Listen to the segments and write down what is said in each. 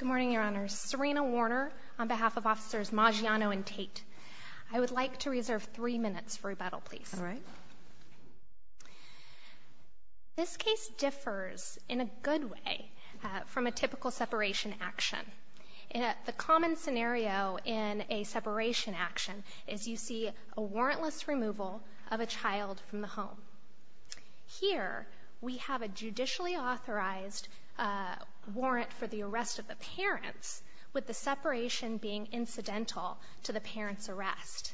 and Tate. I would like to reserve three minutes for rebuttal, please. All right. This case differs in a good way from a typical separation action. The common scenario in a separation action is you see a warrantless removal of a child from the home. Here, we have a judicially authorized warrant for the arrest of the parents, with the separation being incidental to the parent's arrest.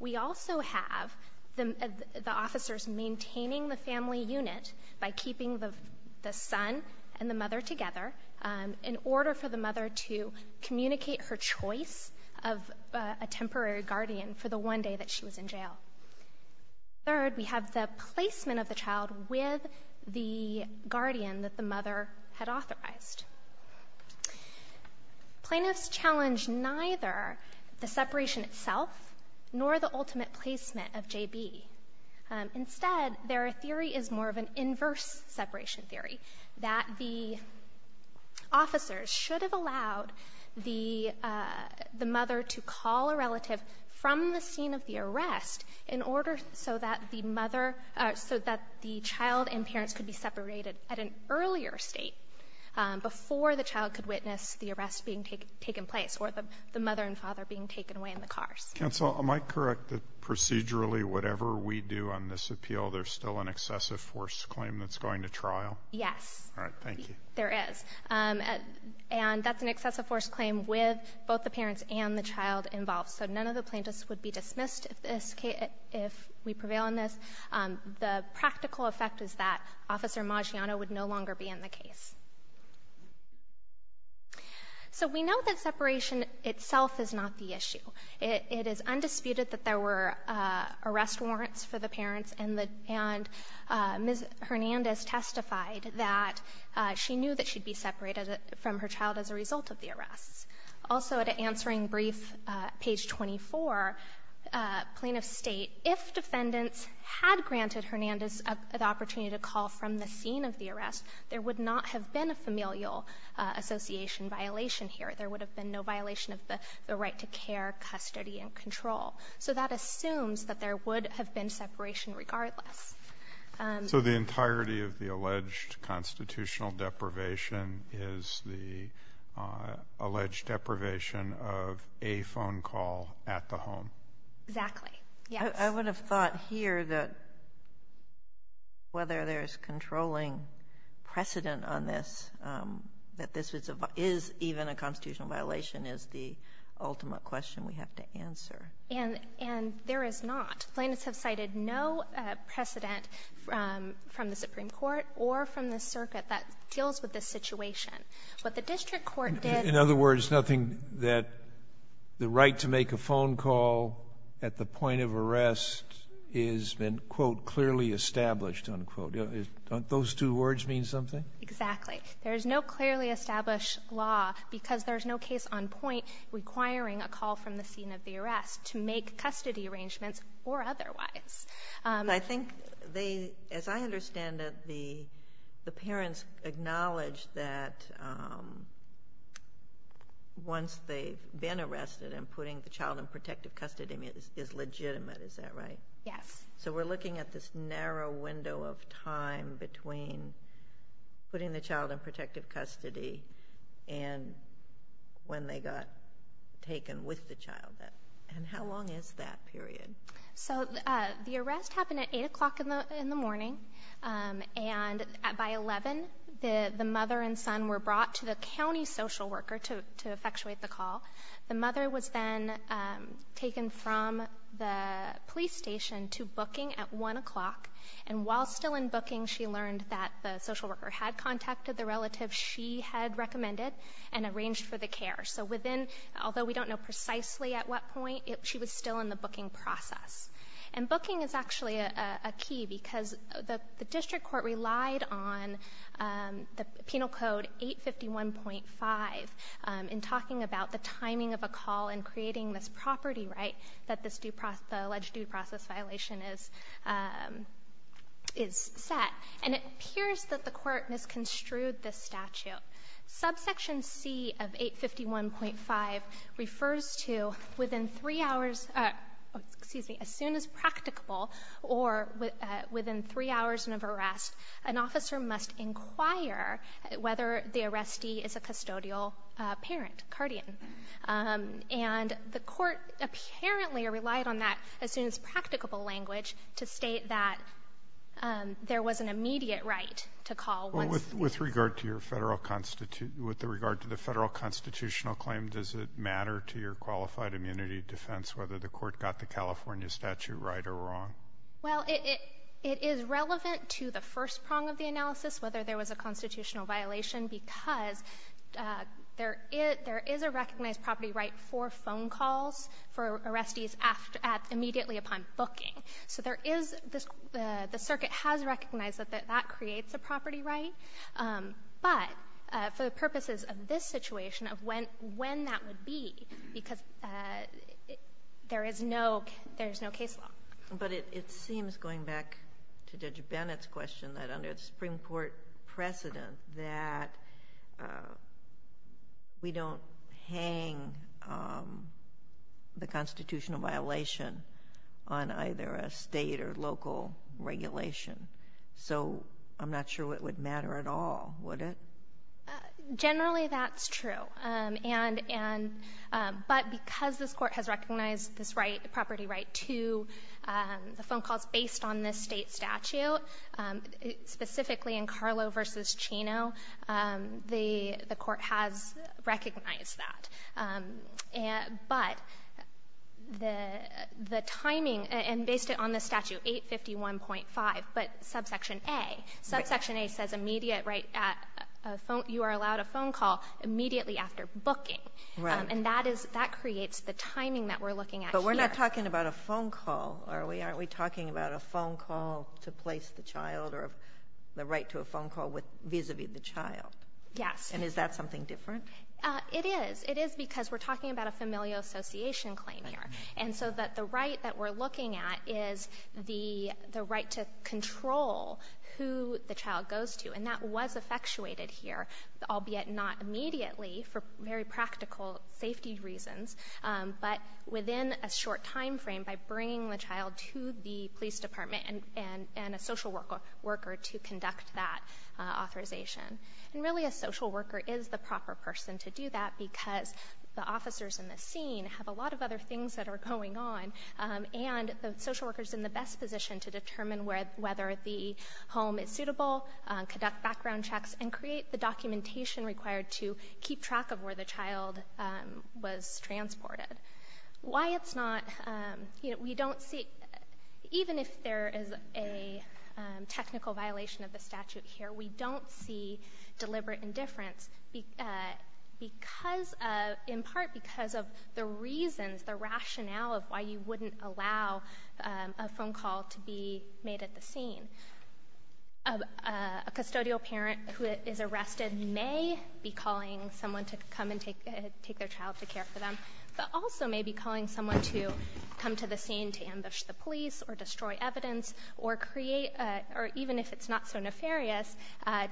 We also have the officers maintaining the family unit by keeping the son and the mother together in order for the mother to communicate her choice of a temporary guardian for the one day that she was in jail. Third, we have the placement of the child with the guardian that the mother had authorized. Plaintiffs challenge neither the separation itself nor the ultimate placement of JB. Instead, their theory is more of an inverse separation theory, that the officers should have allowed the mother to call a relative from the scene of the arrest in order so that the mother or so that the child and parents could be separated at an earlier state before the child could witness the arrest being taken place or the mother and father being taken away in the cars. Kennedy. Counsel, am I correct that procedurally, whatever we do on this appeal, there's still an excessive force claim that's going to trial? Yes. All right. Thank you. There is. And that's an excessive force claim with both the parents and the child involved. So none of the plaintiffs would be dismissed if we prevail on this. The practical effect is that Officer Maggiano would no longer be in the case. So we know that separation itself is not the issue. It is undisputed that there were arrest warrants for the parents and Ms. Hernandez testified that she knew that she'd be separated from her child as a result of the arrests. Also, at an answering brief, page 24, plaintiffs state, if defendants had granted Hernandez the opportunity to call from the scene of the arrest, there would not have been a familial association violation here. There would have been no violation of the right to care, custody, and control. So that assumes that there would have been separation regardless. So the entirety of the alleged constitutional deprivation is the alleged deprivation of a phone call at the home? Exactly. Yes. I would have thought here that whether there's controlling precedent on this, that this is even a constitutional violation, is the ultimate question we have to answer. And there is not. Plaintiffs have cited no precedent from the Supreme Court or from the circuit that deals with this situation. What the district court did In other words, nothing that the right to make a phone call at the point of arrest has been, quote, clearly established, unquote. Don't those two words mean something? Exactly. There is no clearly established law because there's no case on point requiring a call from the scene of the arrest to make custody arrangements or otherwise. I think they, as I understand it, the parents acknowledged that once they've been arrested and putting the child in protective custody is legitimate. Is that right? Yes. So we're looking at this narrow window of time between putting the child in protective custody and when they got taken with the child. And how long is that period? So the arrest happened at 8 o'clock in the morning. And by 11, the mother and son were brought to the county social worker to effectuate the call. The mother was then taken from the police station to booking at 1 o'clock. And while still in booking, she learned that the she had recommended and arranged for the care. So within, although we don't know precisely at what point, she was still in the booking process. And booking is actually a key because the district court relied on the penal code 851.5 in talking about the timing of a call and creating this property right that this due process, the alleged due process violation is set. And it appears that the court misconstrued this statute. Subsection C of 851.5 refers to within 3 hours, excuse me, as soon as practicable or within 3 hours of arrest, an officer must inquire whether the arrestee is a custodial parent, cardian. And the court apparently relied on that as soon as practicable language to state that there was an immediate right to call once With regard to the federal constitutional claim, does it matter to your qualified immunity defense whether the court got the California statute right or wrong? Well, it is relevant to the first prong of the analysis, whether there was a constitutional violation because there is a recognized property right for phone calls for arrestees immediately upon booking. So there is this, the circuit has recognized that that creates a property right. But for the purposes of this situation of when, when that would be, because there is no, there's no case law. But it seems going back to Judge Bennett's question that under the Supreme Court precedent that we don't hang the constitutional violation on either a state or local regulation. So I'm not sure what would matter at all, would it? Generally that's true. And, and, but because this court has recognized this right, property right to the phone calls based on this state statute, specifically in Carlo versus Chino, the court has recognized that. But the timing and based it on the statute 851.5, but subsection A, subsection A says immediate right at a phone, you are allowed a phone call immediately after booking. And that is, that creates the timing that we're looking at here. We're not talking about a phone call, are we? Are we talking about a phone call to place the child or the right to a phone call with, vis-a-vis the child? Yes. And is that something different? It is. It is because we're talking about a familial association claim here. And so that the right that we're looking at is the, the right to control who the child goes to. And that was effectuated here, albeit not immediately for very practical safety reasons. But within a short timeframe by bringing the child to the police department and, and, and a social worker, worker to conduct that authorization. And really a social worker is the proper person to do that because the officers in the scene have a lot of other things that are going on. And the social worker's in the best position to determine where, whether the home is suitable, conduct background checks, and create the documentation required to keep track of where the child was transported. Why it's not, you know, we don't see, even if there is a technical violation of the statute here, we don't see deliberate indifference because of, in part because of the reasons, the rationale of why you wouldn't allow a phone call to be made at the scene. A custodial parent who is arrested may be calling someone to come and take, take their child to care for them, but also may be calling someone to come to the scene to ambush the police or destroy evidence or create, or even if it's not so nefarious,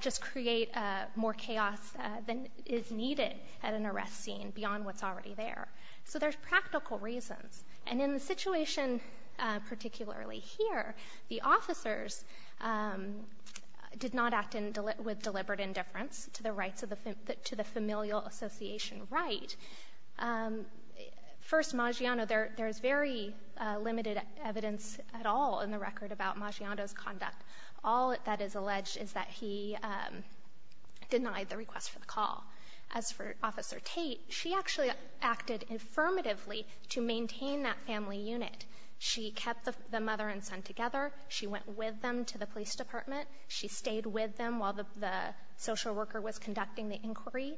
just create more chaos than is needed at an arrest scene beyond what's already there. So there's practical reasons. And in the situation, particularly here, the officers did not act in, with deliberate indifference to the rights of the, to the familial association right. First, Maggiano, there, there's very limited evidence at all in the record about Maggiano's conduct. All that is alleged is that he denied the request for the call. As for Officer Tate, she actually acted affirmatively to maintain that family unit. She kept the mother and son together. She went with them to the police department. She stayed with them while the social worker was conducting the inquiry.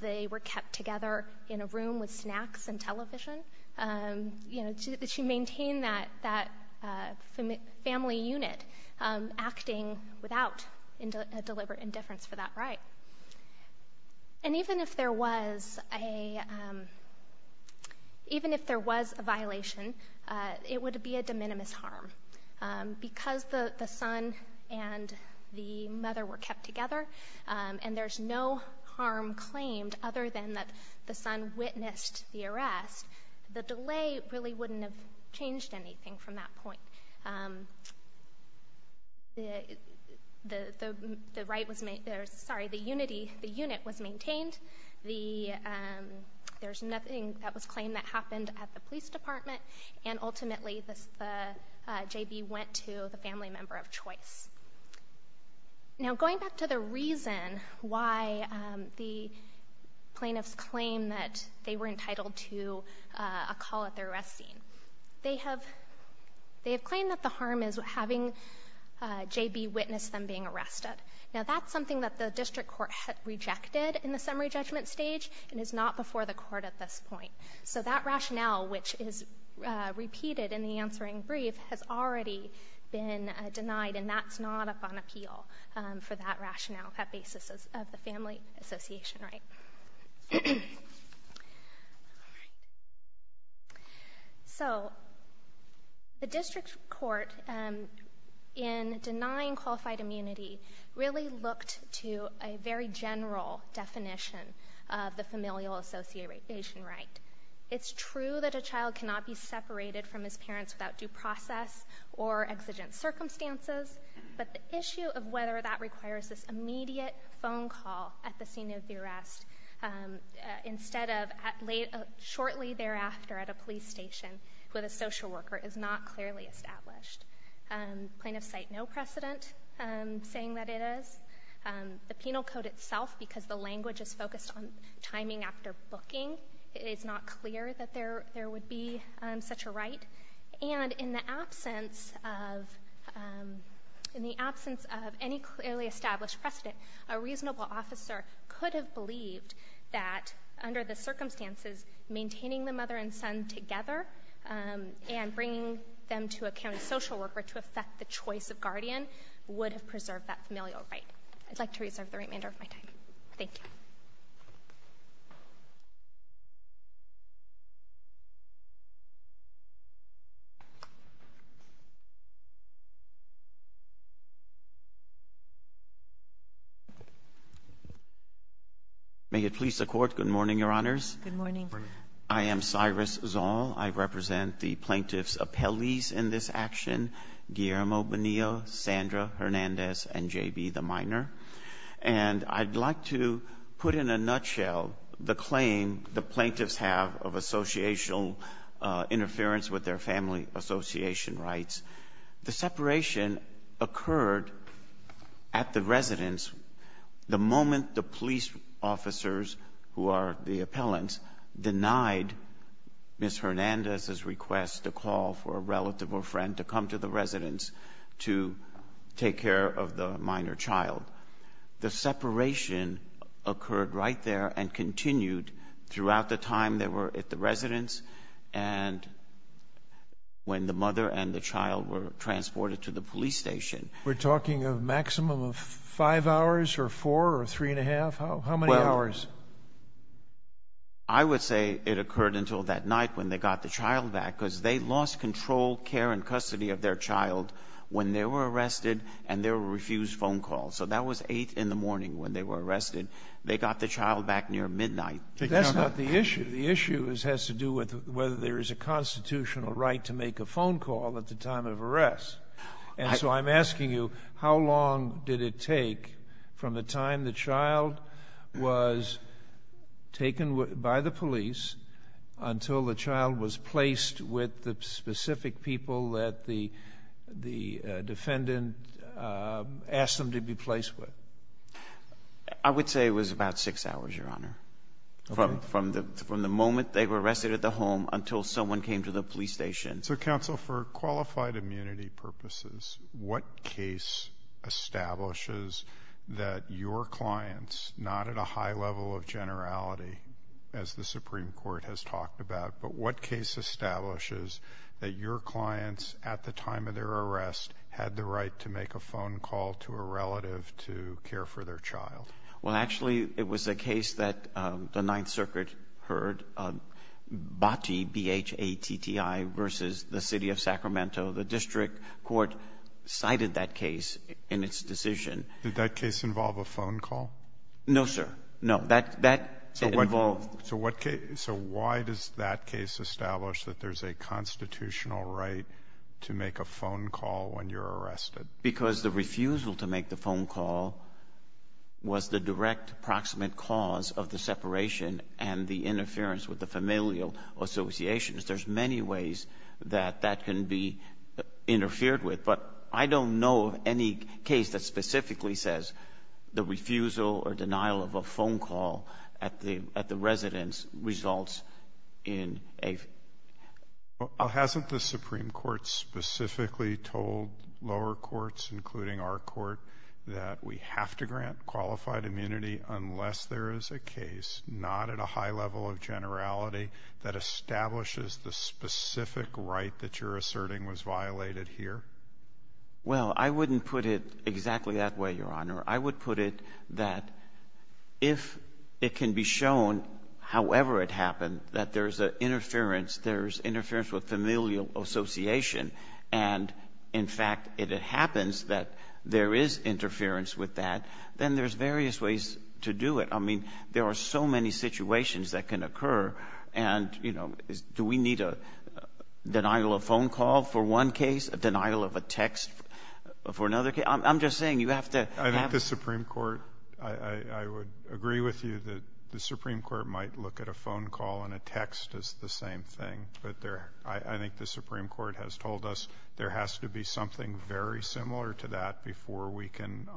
They were kept together in a room with snacks and television. You know, she maintained that, that family unit acting without a deliberate indifference for that right. And even if there was a, even if there was a violation, it would be a de minimis harm. Because the, the son and the mother were kept together, and there's no harm claimed other than that the son witnessed the arrest, the delay really wouldn't have changed anything from that point. The, the right was, sorry, the unity, the unit was maintained. The, there's nothing that was claimed that happened at the police department, and ultimately the, the JB went to the family member of choice. Now, going back to the reason why the plaintiffs claim that they were entitled to a call at the arrest scene. They have, they have claimed that the harm is having JB witness them being arrested. Now, that's something that the district court rejected in the summary judgment stage, and is not before the court at this point. So that rationale, which is repeated in the answering brief, has already been denied, and that's not up on appeal for that rationale, that basis of the family association right. So the district court, in denying qualified immunity, really looked to a very specific and very general definition of the familial association right. It's true that a child cannot be separated from his parents without due process or exigent circumstances, but the issue of whether that requires this immediate phone call at the scene of the arrest, instead of at late, shortly thereafter at a police station with a social worker is not clearly established. Plaintiffs cite no precedent saying that it is. The penal code itself, because the language is focused on timing after booking, it's not clear that there would be such a right. And in the absence of, in the absence of any clearly established precedent, a reasonable officer could have believed that under the circumstances, maintaining the mother and son together and bringing them to a county social worker to affect the choice of guardian would have preserved that familial right. I'd like to reserve the remainder of my time. Thank you. CHIEF JUSTICE BREYER. May it please the Court, good morning, Your Honors. MS. SIRENSEN. Good morning. CHIEF JUSTICE BREYER. I am Cyrus Zoll. I represent the plaintiffs' appellees in this action, Guillermo Bonillo, Sandra Hernandez, and J.B. the minor. And I'd like to put in a nutshell the claim the plaintiffs have of associational interference with their family association rights. The separation occurred at the residence the moment the police officers, who are the minor, denied Ms. Hernandez's request to call for a relative or friend to come to the residence to take care of the minor child. The separation occurred right there and continued throughout the time they were at the residence and when the mother and the child were transported CHIEF JUSTICE BREYER. We're talking a maximum of five hours or four or three and a half? How many hours? MR. SIRENSEN. I would say it occurred until that night when they got the child back, because they lost control, care, and custody of their child when they were arrested and there were refused phone calls. So that was 8 in the morning when they were arrested. They got the child back near midnight. CHIEF JUSTICE BREYER. That's not the issue. The issue has to do with whether there is a constitutional right to make a phone call at the time of arrest. And so I'm asking you, how long did it take from the time the child was taken by the police until the child was placed with the specific people that the defendant asked them to be placed with? MR. SIRENSEN. I would say it was about six hours, Your Honor. CHIEF JUSTICE BREYER. Okay. MR. SIRENSEN. From the moment they were arrested at the home until someone came to the police station. CHIEF JUSTICE BREYER. So, counsel, for qualified immunity purposes, what case establishes that your clients, not at a high level of generality, as the Supreme Court has talked about, but what case establishes that your clients at the time of their arrest had the right to make a phone call to a relative to care for their child? MR. SIRENSEN. Well, actually, it was a case that the Ninth Circuit heard, BATTI, B-H-A-T-T-I, versus the City of Sacramento. The district court cited that case in its decision. CHIEF JUSTICE BREYER. Did that case involve a phone call? MR. SIRENSEN. No, sir. No. That involved ---- CHIEF JUSTICE BREYER. So why does that case establish that there's a constitutional right to make a phone call when you're arrested? MR. SIRENSEN. Because the refusal to make the phone call was the direct proximate cause of the separation and the interference with the familial associations. There's many ways that that can be interfered with, but I don't know of any case that specifically says the refusal or denial of a phone call at the residence results in a ---- CHIEF JUSTICE BREYER. Well, hasn't the Supreme Court specifically told lower courts, including our court, that we have to grant qualified immunity unless there is a case, not at a high level of generality, that establishes the specific right that you're asserting was violated here? MR. SIRENSEN. Well, I wouldn't put it exactly that way, Your Honor. I would put it that if it can be shown, however it happened, that there's an interference, there's interference with familial association, and, in fact, if it happens that there is interference with that, then there's various ways to do it. I mean, there are so many situations that can occur, and, you know, do we need a denial of phone call for one case, a denial of a text for another case? I'm just saying you have to have ---- CHIEF JUSTICE BREYER. Well, the Supreme Court, I would agree with you that the Supreme Court might look at a phone call and a text as the same thing, but I think the Supreme Court has told us there has to be something very similar to that before we can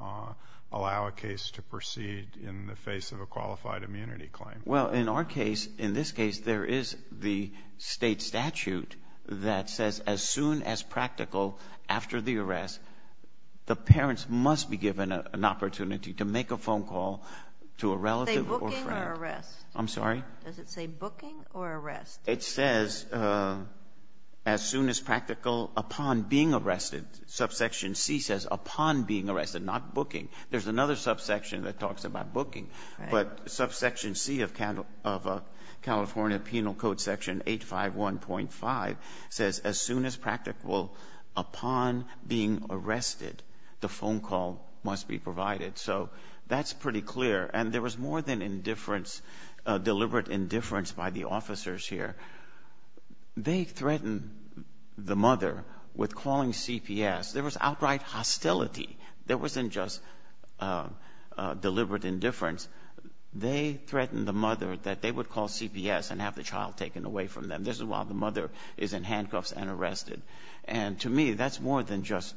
allow a case to proceed in the face of a qualified immunity claim. MR. SIRENSEN. Well, in our case, in this case, there is the state statute that says as soon as practical after the arrest, the parents must be given an opportunity to make a phone call to a relative or friend. MS. MOSS. Say booking or arrest? MR. SIRENSEN. I'm sorry? MS. MOSS. Does it say booking or arrest? MR. SIRENSEN. It says as soon as practical upon being arrested. Subsection C says upon being arrested, not booking. There's another subsection that talks about booking. MS. MOSS. Right. MR. SIRENSEN. But subsection C of California Penal Code section 851.5 says as soon as practical upon being arrested, the phone call must be provided. So that's pretty clear. And there was more than indifference, deliberate indifference by the officers here. They threatened the mother with calling CPS. There was outright hostility. There wasn't just deliberate indifference. They threatened the mother that they would call CPS and have the child taken away from them. This is while the mother is in handcuffs and arrested. And to me, that's more than just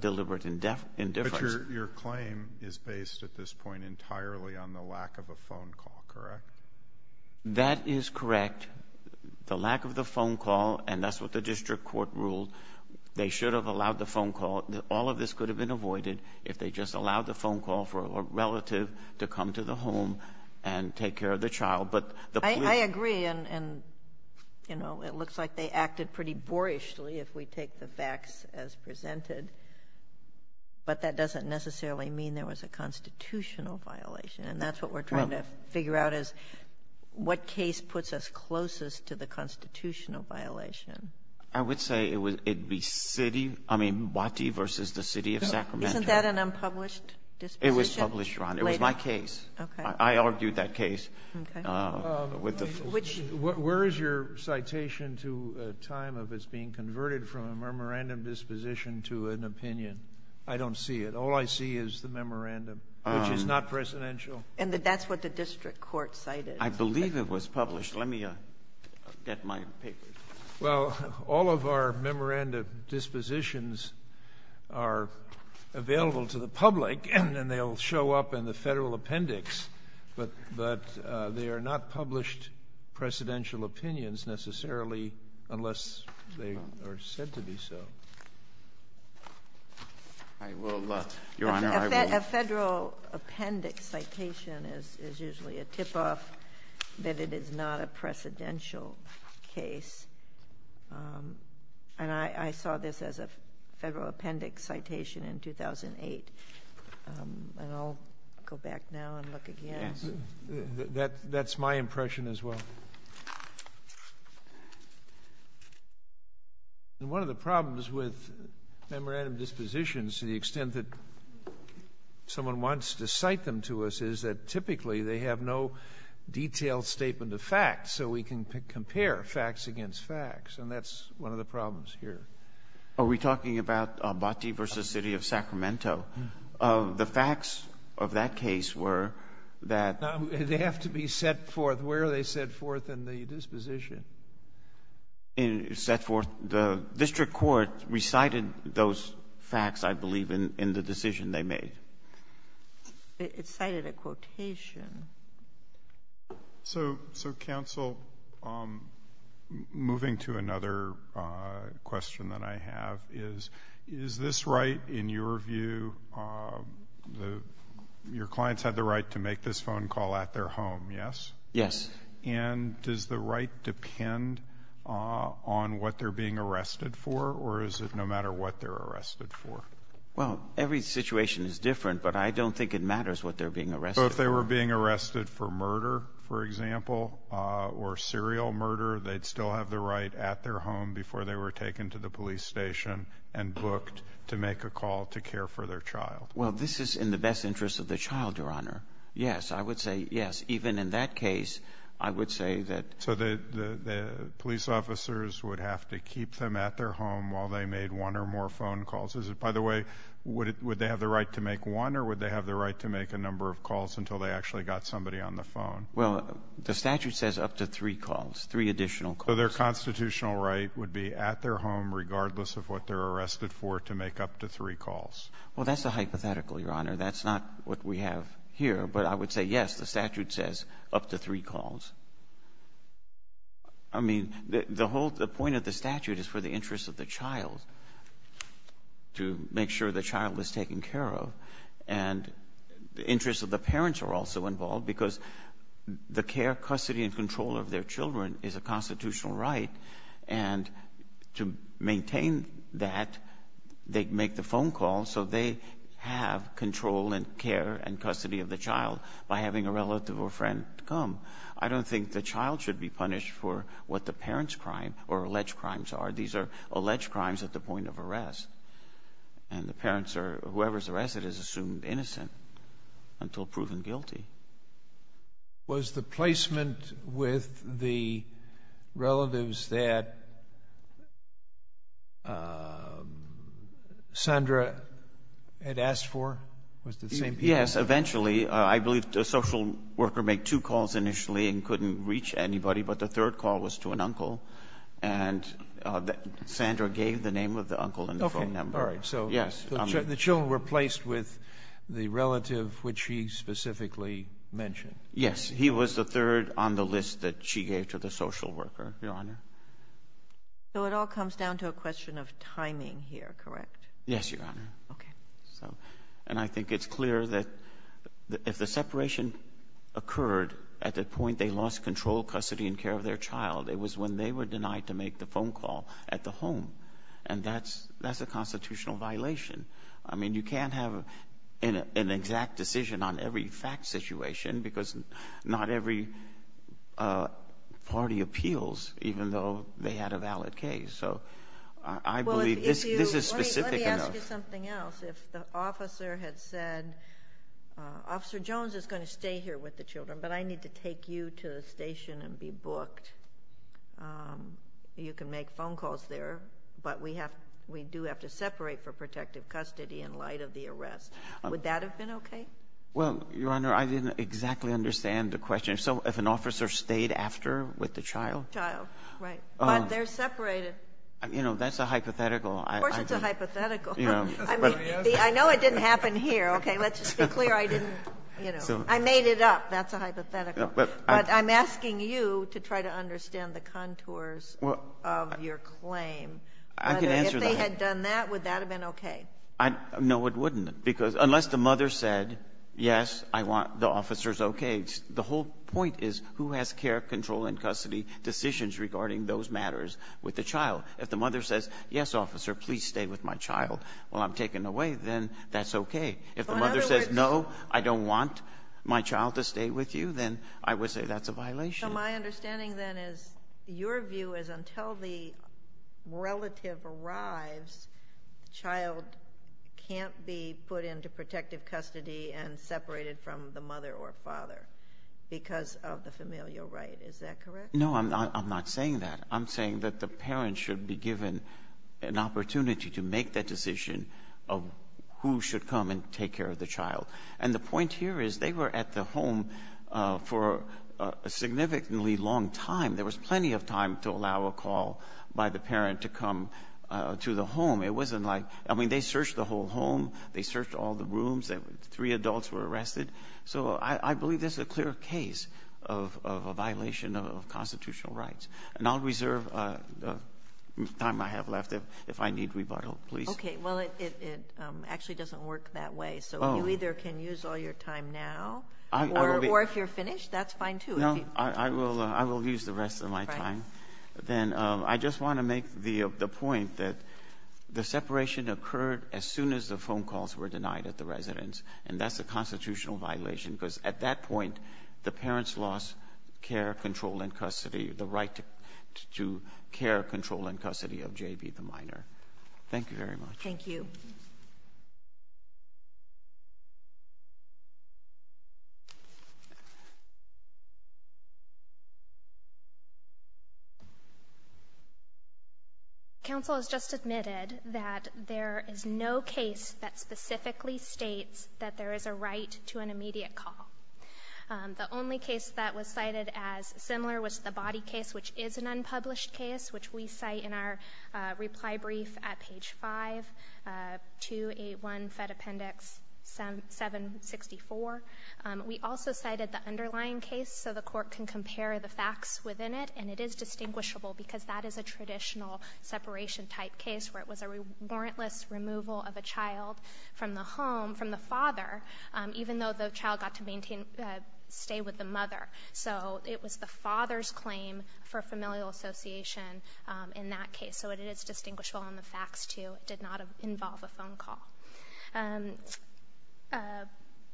deliberate indifference. MR. SIRENSEN. But your claim is based at this point entirely on the lack of a phone call, correct? MR. SIRENSEN. That is correct. The lack of the phone call, and that's what the district court ruled, they should have allowed the phone call. All of this could have been avoided if they just allowed the phone call for a relative to come to the home and take care of the child. MR. SIRENSEN. I agree. And, you know, it looks like they acted pretty boorishly, if we take the facts as presented. But that doesn't necessarily mean there was a constitutional violation. And that's what we're trying to figure out is what case puts us closest to the constitutional violation. MR. SIRENSEN. I would say it would be city, I mean, Watte versus the city of Sacramento. MR. SIRENSEN. Isn't that an unpublished disposition? MR. SIRENSEN. It was published, Your Honor. It was my case. MR. SIRENSEN. Okay. MR. SIRENSEN. I argued that case. MR. SIRENSEN. Okay. MR. SIRENSEN. Which JUSTICE SCALIA. Where is your citation to a time of this being converted from a memorandum disposition to an opinion? I don't see it. All I see is the memorandum, which is not precedential. MR. SIRENSEN. And that's what the district court cited. MR. SIRENSEN. I believe it was published. Let me get my papers. JUSTICE SCALIA. Well, all of our memorandum dispositions are available to the public, and they'll show up in the Federal Appendix, but they are not published precedential opinions necessarily unless they are said to be so. MR. SIRENSEN. I will, Your Honor, I will. JUSTICE SOTOMAYOR. A Federal Appendix citation is usually a tip-off that it is not a precedential case. And I saw this as a Federal Appendix citation in 2008. And I'll go back now and MR. SIRENSEN. That's my impression as well. And one of the problems with memorandum dispositions to the extent that someone wants to cite them to us is that typically they have no detailed statement of facts, so we can compare facts against facts. And that's one of the problems JUSTICE BREYER. Are we talking about Abbate v. City of Sacramento? The facts of that case were that MR. SIRENSEN. They have to be set forth. Where are they set forth in the disposition? JUSTICE BREYER. Set forth. The district court recited those facts, I believe, in the decision they made. MR. SIRENSEN. It cited a quotation. JUSTICE ALITO. So, Counsel, moving to another question that I have is, is this right in your view, your clients had the right to make this phone call at their home, yes? MR. SIRENSEN. Yes. JUSTICE ALITO. And does the right depend on what they're being arrested for, or is it no matter what they're arrested for? MR. SIRENSEN. Well, every situation is different, but I don't think it matters what they're being arrested for. JUSTICE ALITO. So if they were being arrested for murder, for example, or serial murder, they'd still have the right at their home before they were taken to the police station and booked to make a call to care for their child? MR. SIRENSEN. Well, this is in the best interest of the child, Your Honor. Yes, I would say yes. Even in that case, I would say that JUSTICE ALITO. So the police officers would have to keep them at their home while they made one or more phone calls. By the way, would they have the right to make one, or would they have the right to make a number of calls until they actually got somebody MR. SIRENSEN. Well, the statute says up to three calls, three additional calls. JUSTICE ALITO. So their constitutional right would be at their home regardless of what they're arrested for to make up to three calls? MR. SIRENSEN. Well, that's a hypothetical, Your Honor. That's not what we have here. But I would say yes, the statute says up to three calls. I mean, the whole point of the statute is to make sure the child is taken care of. And the interests of the parents are also involved, because the care, custody and control of their children is a constitutional right. And to maintain that, they make the phone call so they have control and care and custody of the child by having a relative or friend come. I don't think the child should be punished for what the parent's crime or alleged crimes are. These are alleged crimes at the point of arrest. And the parents or whoever's arrested is assumed innocent until proven guilty. JUSTICE SCALIA. Was the placement with the relatives that Sandra had asked for, was it the same people? MR. SIRENSEN. Yes, eventually. I believe the social worker made two calls initially and Sandra gave the name of the uncle and the phone number. MR. SIRENSEN. Yes. JUSTICE SCALIA. So the children were placed with the relative which she specifically mentioned? MR. SIRENSEN. Yes. He was the third on the list that she gave to the social worker, Your Honor. JUSTICE SOTOMAYOR. So it all comes down to a question of timing here, correct? MR. SIRENSEN. Yes, Your Honor. JUSTICE SOTOMAYOR. Okay. MR. SIRENSEN. So, and I think it's clear that if the separation occurred at the point they lost control, custody, and care of their child, it was when they were denied to make the phone call at the home. And that's a constitutional violation. I mean, you can't have an exact decision on every fact situation because not every party appeals even though they had a valid case. So I believe this is specific enough. JUSTICE SOTOMAYOR. Well, let me ask you something else. If the officer had said, Officer Jones is going to stay here with the children, but I need to take you to the station and be booked, you can make phone calls there, but we do have to separate for protective custody in light of the arrest, would that have been okay? MR. SIRENSEN. Well, Your Honor, I didn't exactly understand the question. So if an officer stayed after with the child? JUSTICE SOTOMAYOR. Child, right. But they're separated. MR. SIRENSEN. You know, that's a hypothetical. JUSTICE SOTOMAYOR. Of course it's a hypothetical. I mean, I know it didn't happen here. Okay. Let's just be clear. I didn't, you know, I made it up. That's a hypothetical. But I'm asking you to try to understand the contours of your claim. MR. SIRENSEN. I can answer that. JUSTICE SOTOMAYOR. If they had done that, would that have been okay? MR. SIRENSEN. No, it wouldn't. Because unless the mother said, yes, I want the officer's okay, the whole point is who has care, control and custody decisions regarding those matters with the child? If the mother says, yes, officer, please stay with my child. If the mother says, no, I don't want my child to stay with you, then I would say that's a violation. JUSTICE SOTOMAYOR. So my understanding then is your view is until the relative arrives, the child can't be put into protective custody and separated from the mother or father because of the familial right. Is that correct? MR. SIRENSEN. No, I'm not saying that. I'm saying that the parent should be given an And the point here is they were at the home for a significantly long time. There was plenty of time to allow a call by the parent to come to the home. It wasn't like, I mean, they searched the whole home. They searched all the rooms. Three adults were arrested. So I believe this is a clear case of a violation of constitutional rights. And I'll reserve the time I have left if I need rebuttal, please. JUSTICE SOTOMAYOR. Okay. Well, it actually doesn't work that way. So you either can use all your time now, or if you're finished, that's fine, too. MR. SIRENSEN. No, I will use the rest of my time. JUSTICE SOTOMAYOR. Right. MR. SIRENSEN. Then I just want to make the point that the separation occurred as soon as the phone calls were denied at the residence, and that's a constitutional violation because at that point, the parents lost care, control, and custody, the right to care, control, and custody. JUSTICE SOTOMAYOR. Thank you. MS. TAYLOR. Counsel has just admitted that there is no case that specifically states that there is a right to an immediate call. The only case that was cited as similar was the body case, which is an unpublished case, which we cite in our reply brief at page 5, 281 Fed Appendix 764. We also cited the underlying case so the Court can compare the facts within it, and it is distinguishable because that is a traditional separation-type case where it was a warrantless removal of a child from the home, from the father, even though the father's claim for familial association in that case. So it is distinguishable in the facts, too. It did not involve a phone call.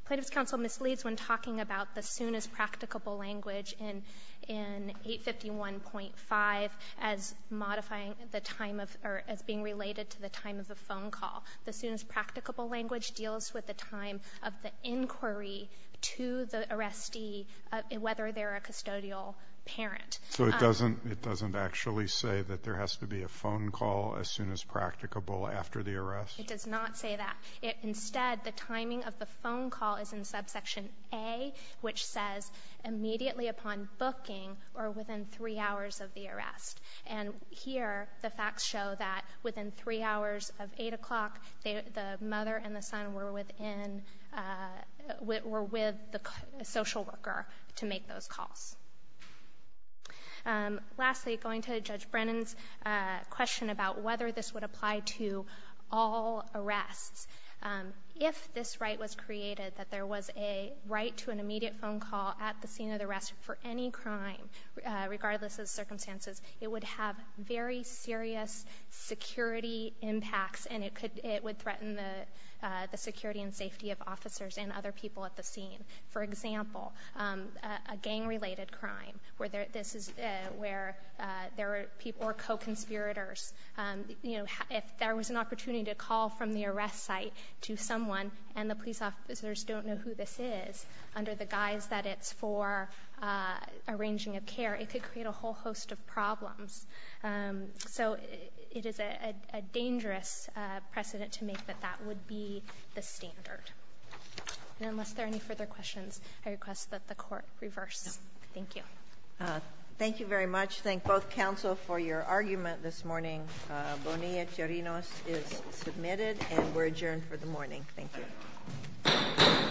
Plaintiff's counsel misleads when talking about the soon-as-practicable language in 851.5 as modifying the time of or as being related to the time of the phone call. The soon-as-practicable language deals with the time of the inquiry to the arrestee, whether they're a custodial parent. So it doesn't actually say that there has to be a phone call as soon as practicable after the arrest? It does not say that. Instead, the timing of the phone call is in subsection A, which says immediately upon booking or within three hours of the arrest. And here, the facts show that within three hours of 8 o'clock, the mother and the son were within, were with the social worker to make those calls. Lastly, going to Judge Brennan's question about whether this would apply to all arrests, if this right was created, that there was a right to an immediate phone call at the scene of the arrest for any crime, regardless of circumstances, it would have very serious security impacts, and it would threaten the security and safety of officers and other people at the scene. For example, a gang-related crime where there are co-conspirators, if there was an opportunity to call from the arrest site to someone and the police officers don't know who this is under the guise that it's for arranging a care, it could create a whole host of problems. So it is a dangerous precedent to make that that would be the standard. And unless there are any further questions, I request that the Court reverse. Thank you. Thank you very much. Thank both counsel for your argument this morning. Bonilla-Cherinos is submitted and we're adjourned for the morning. Thank you.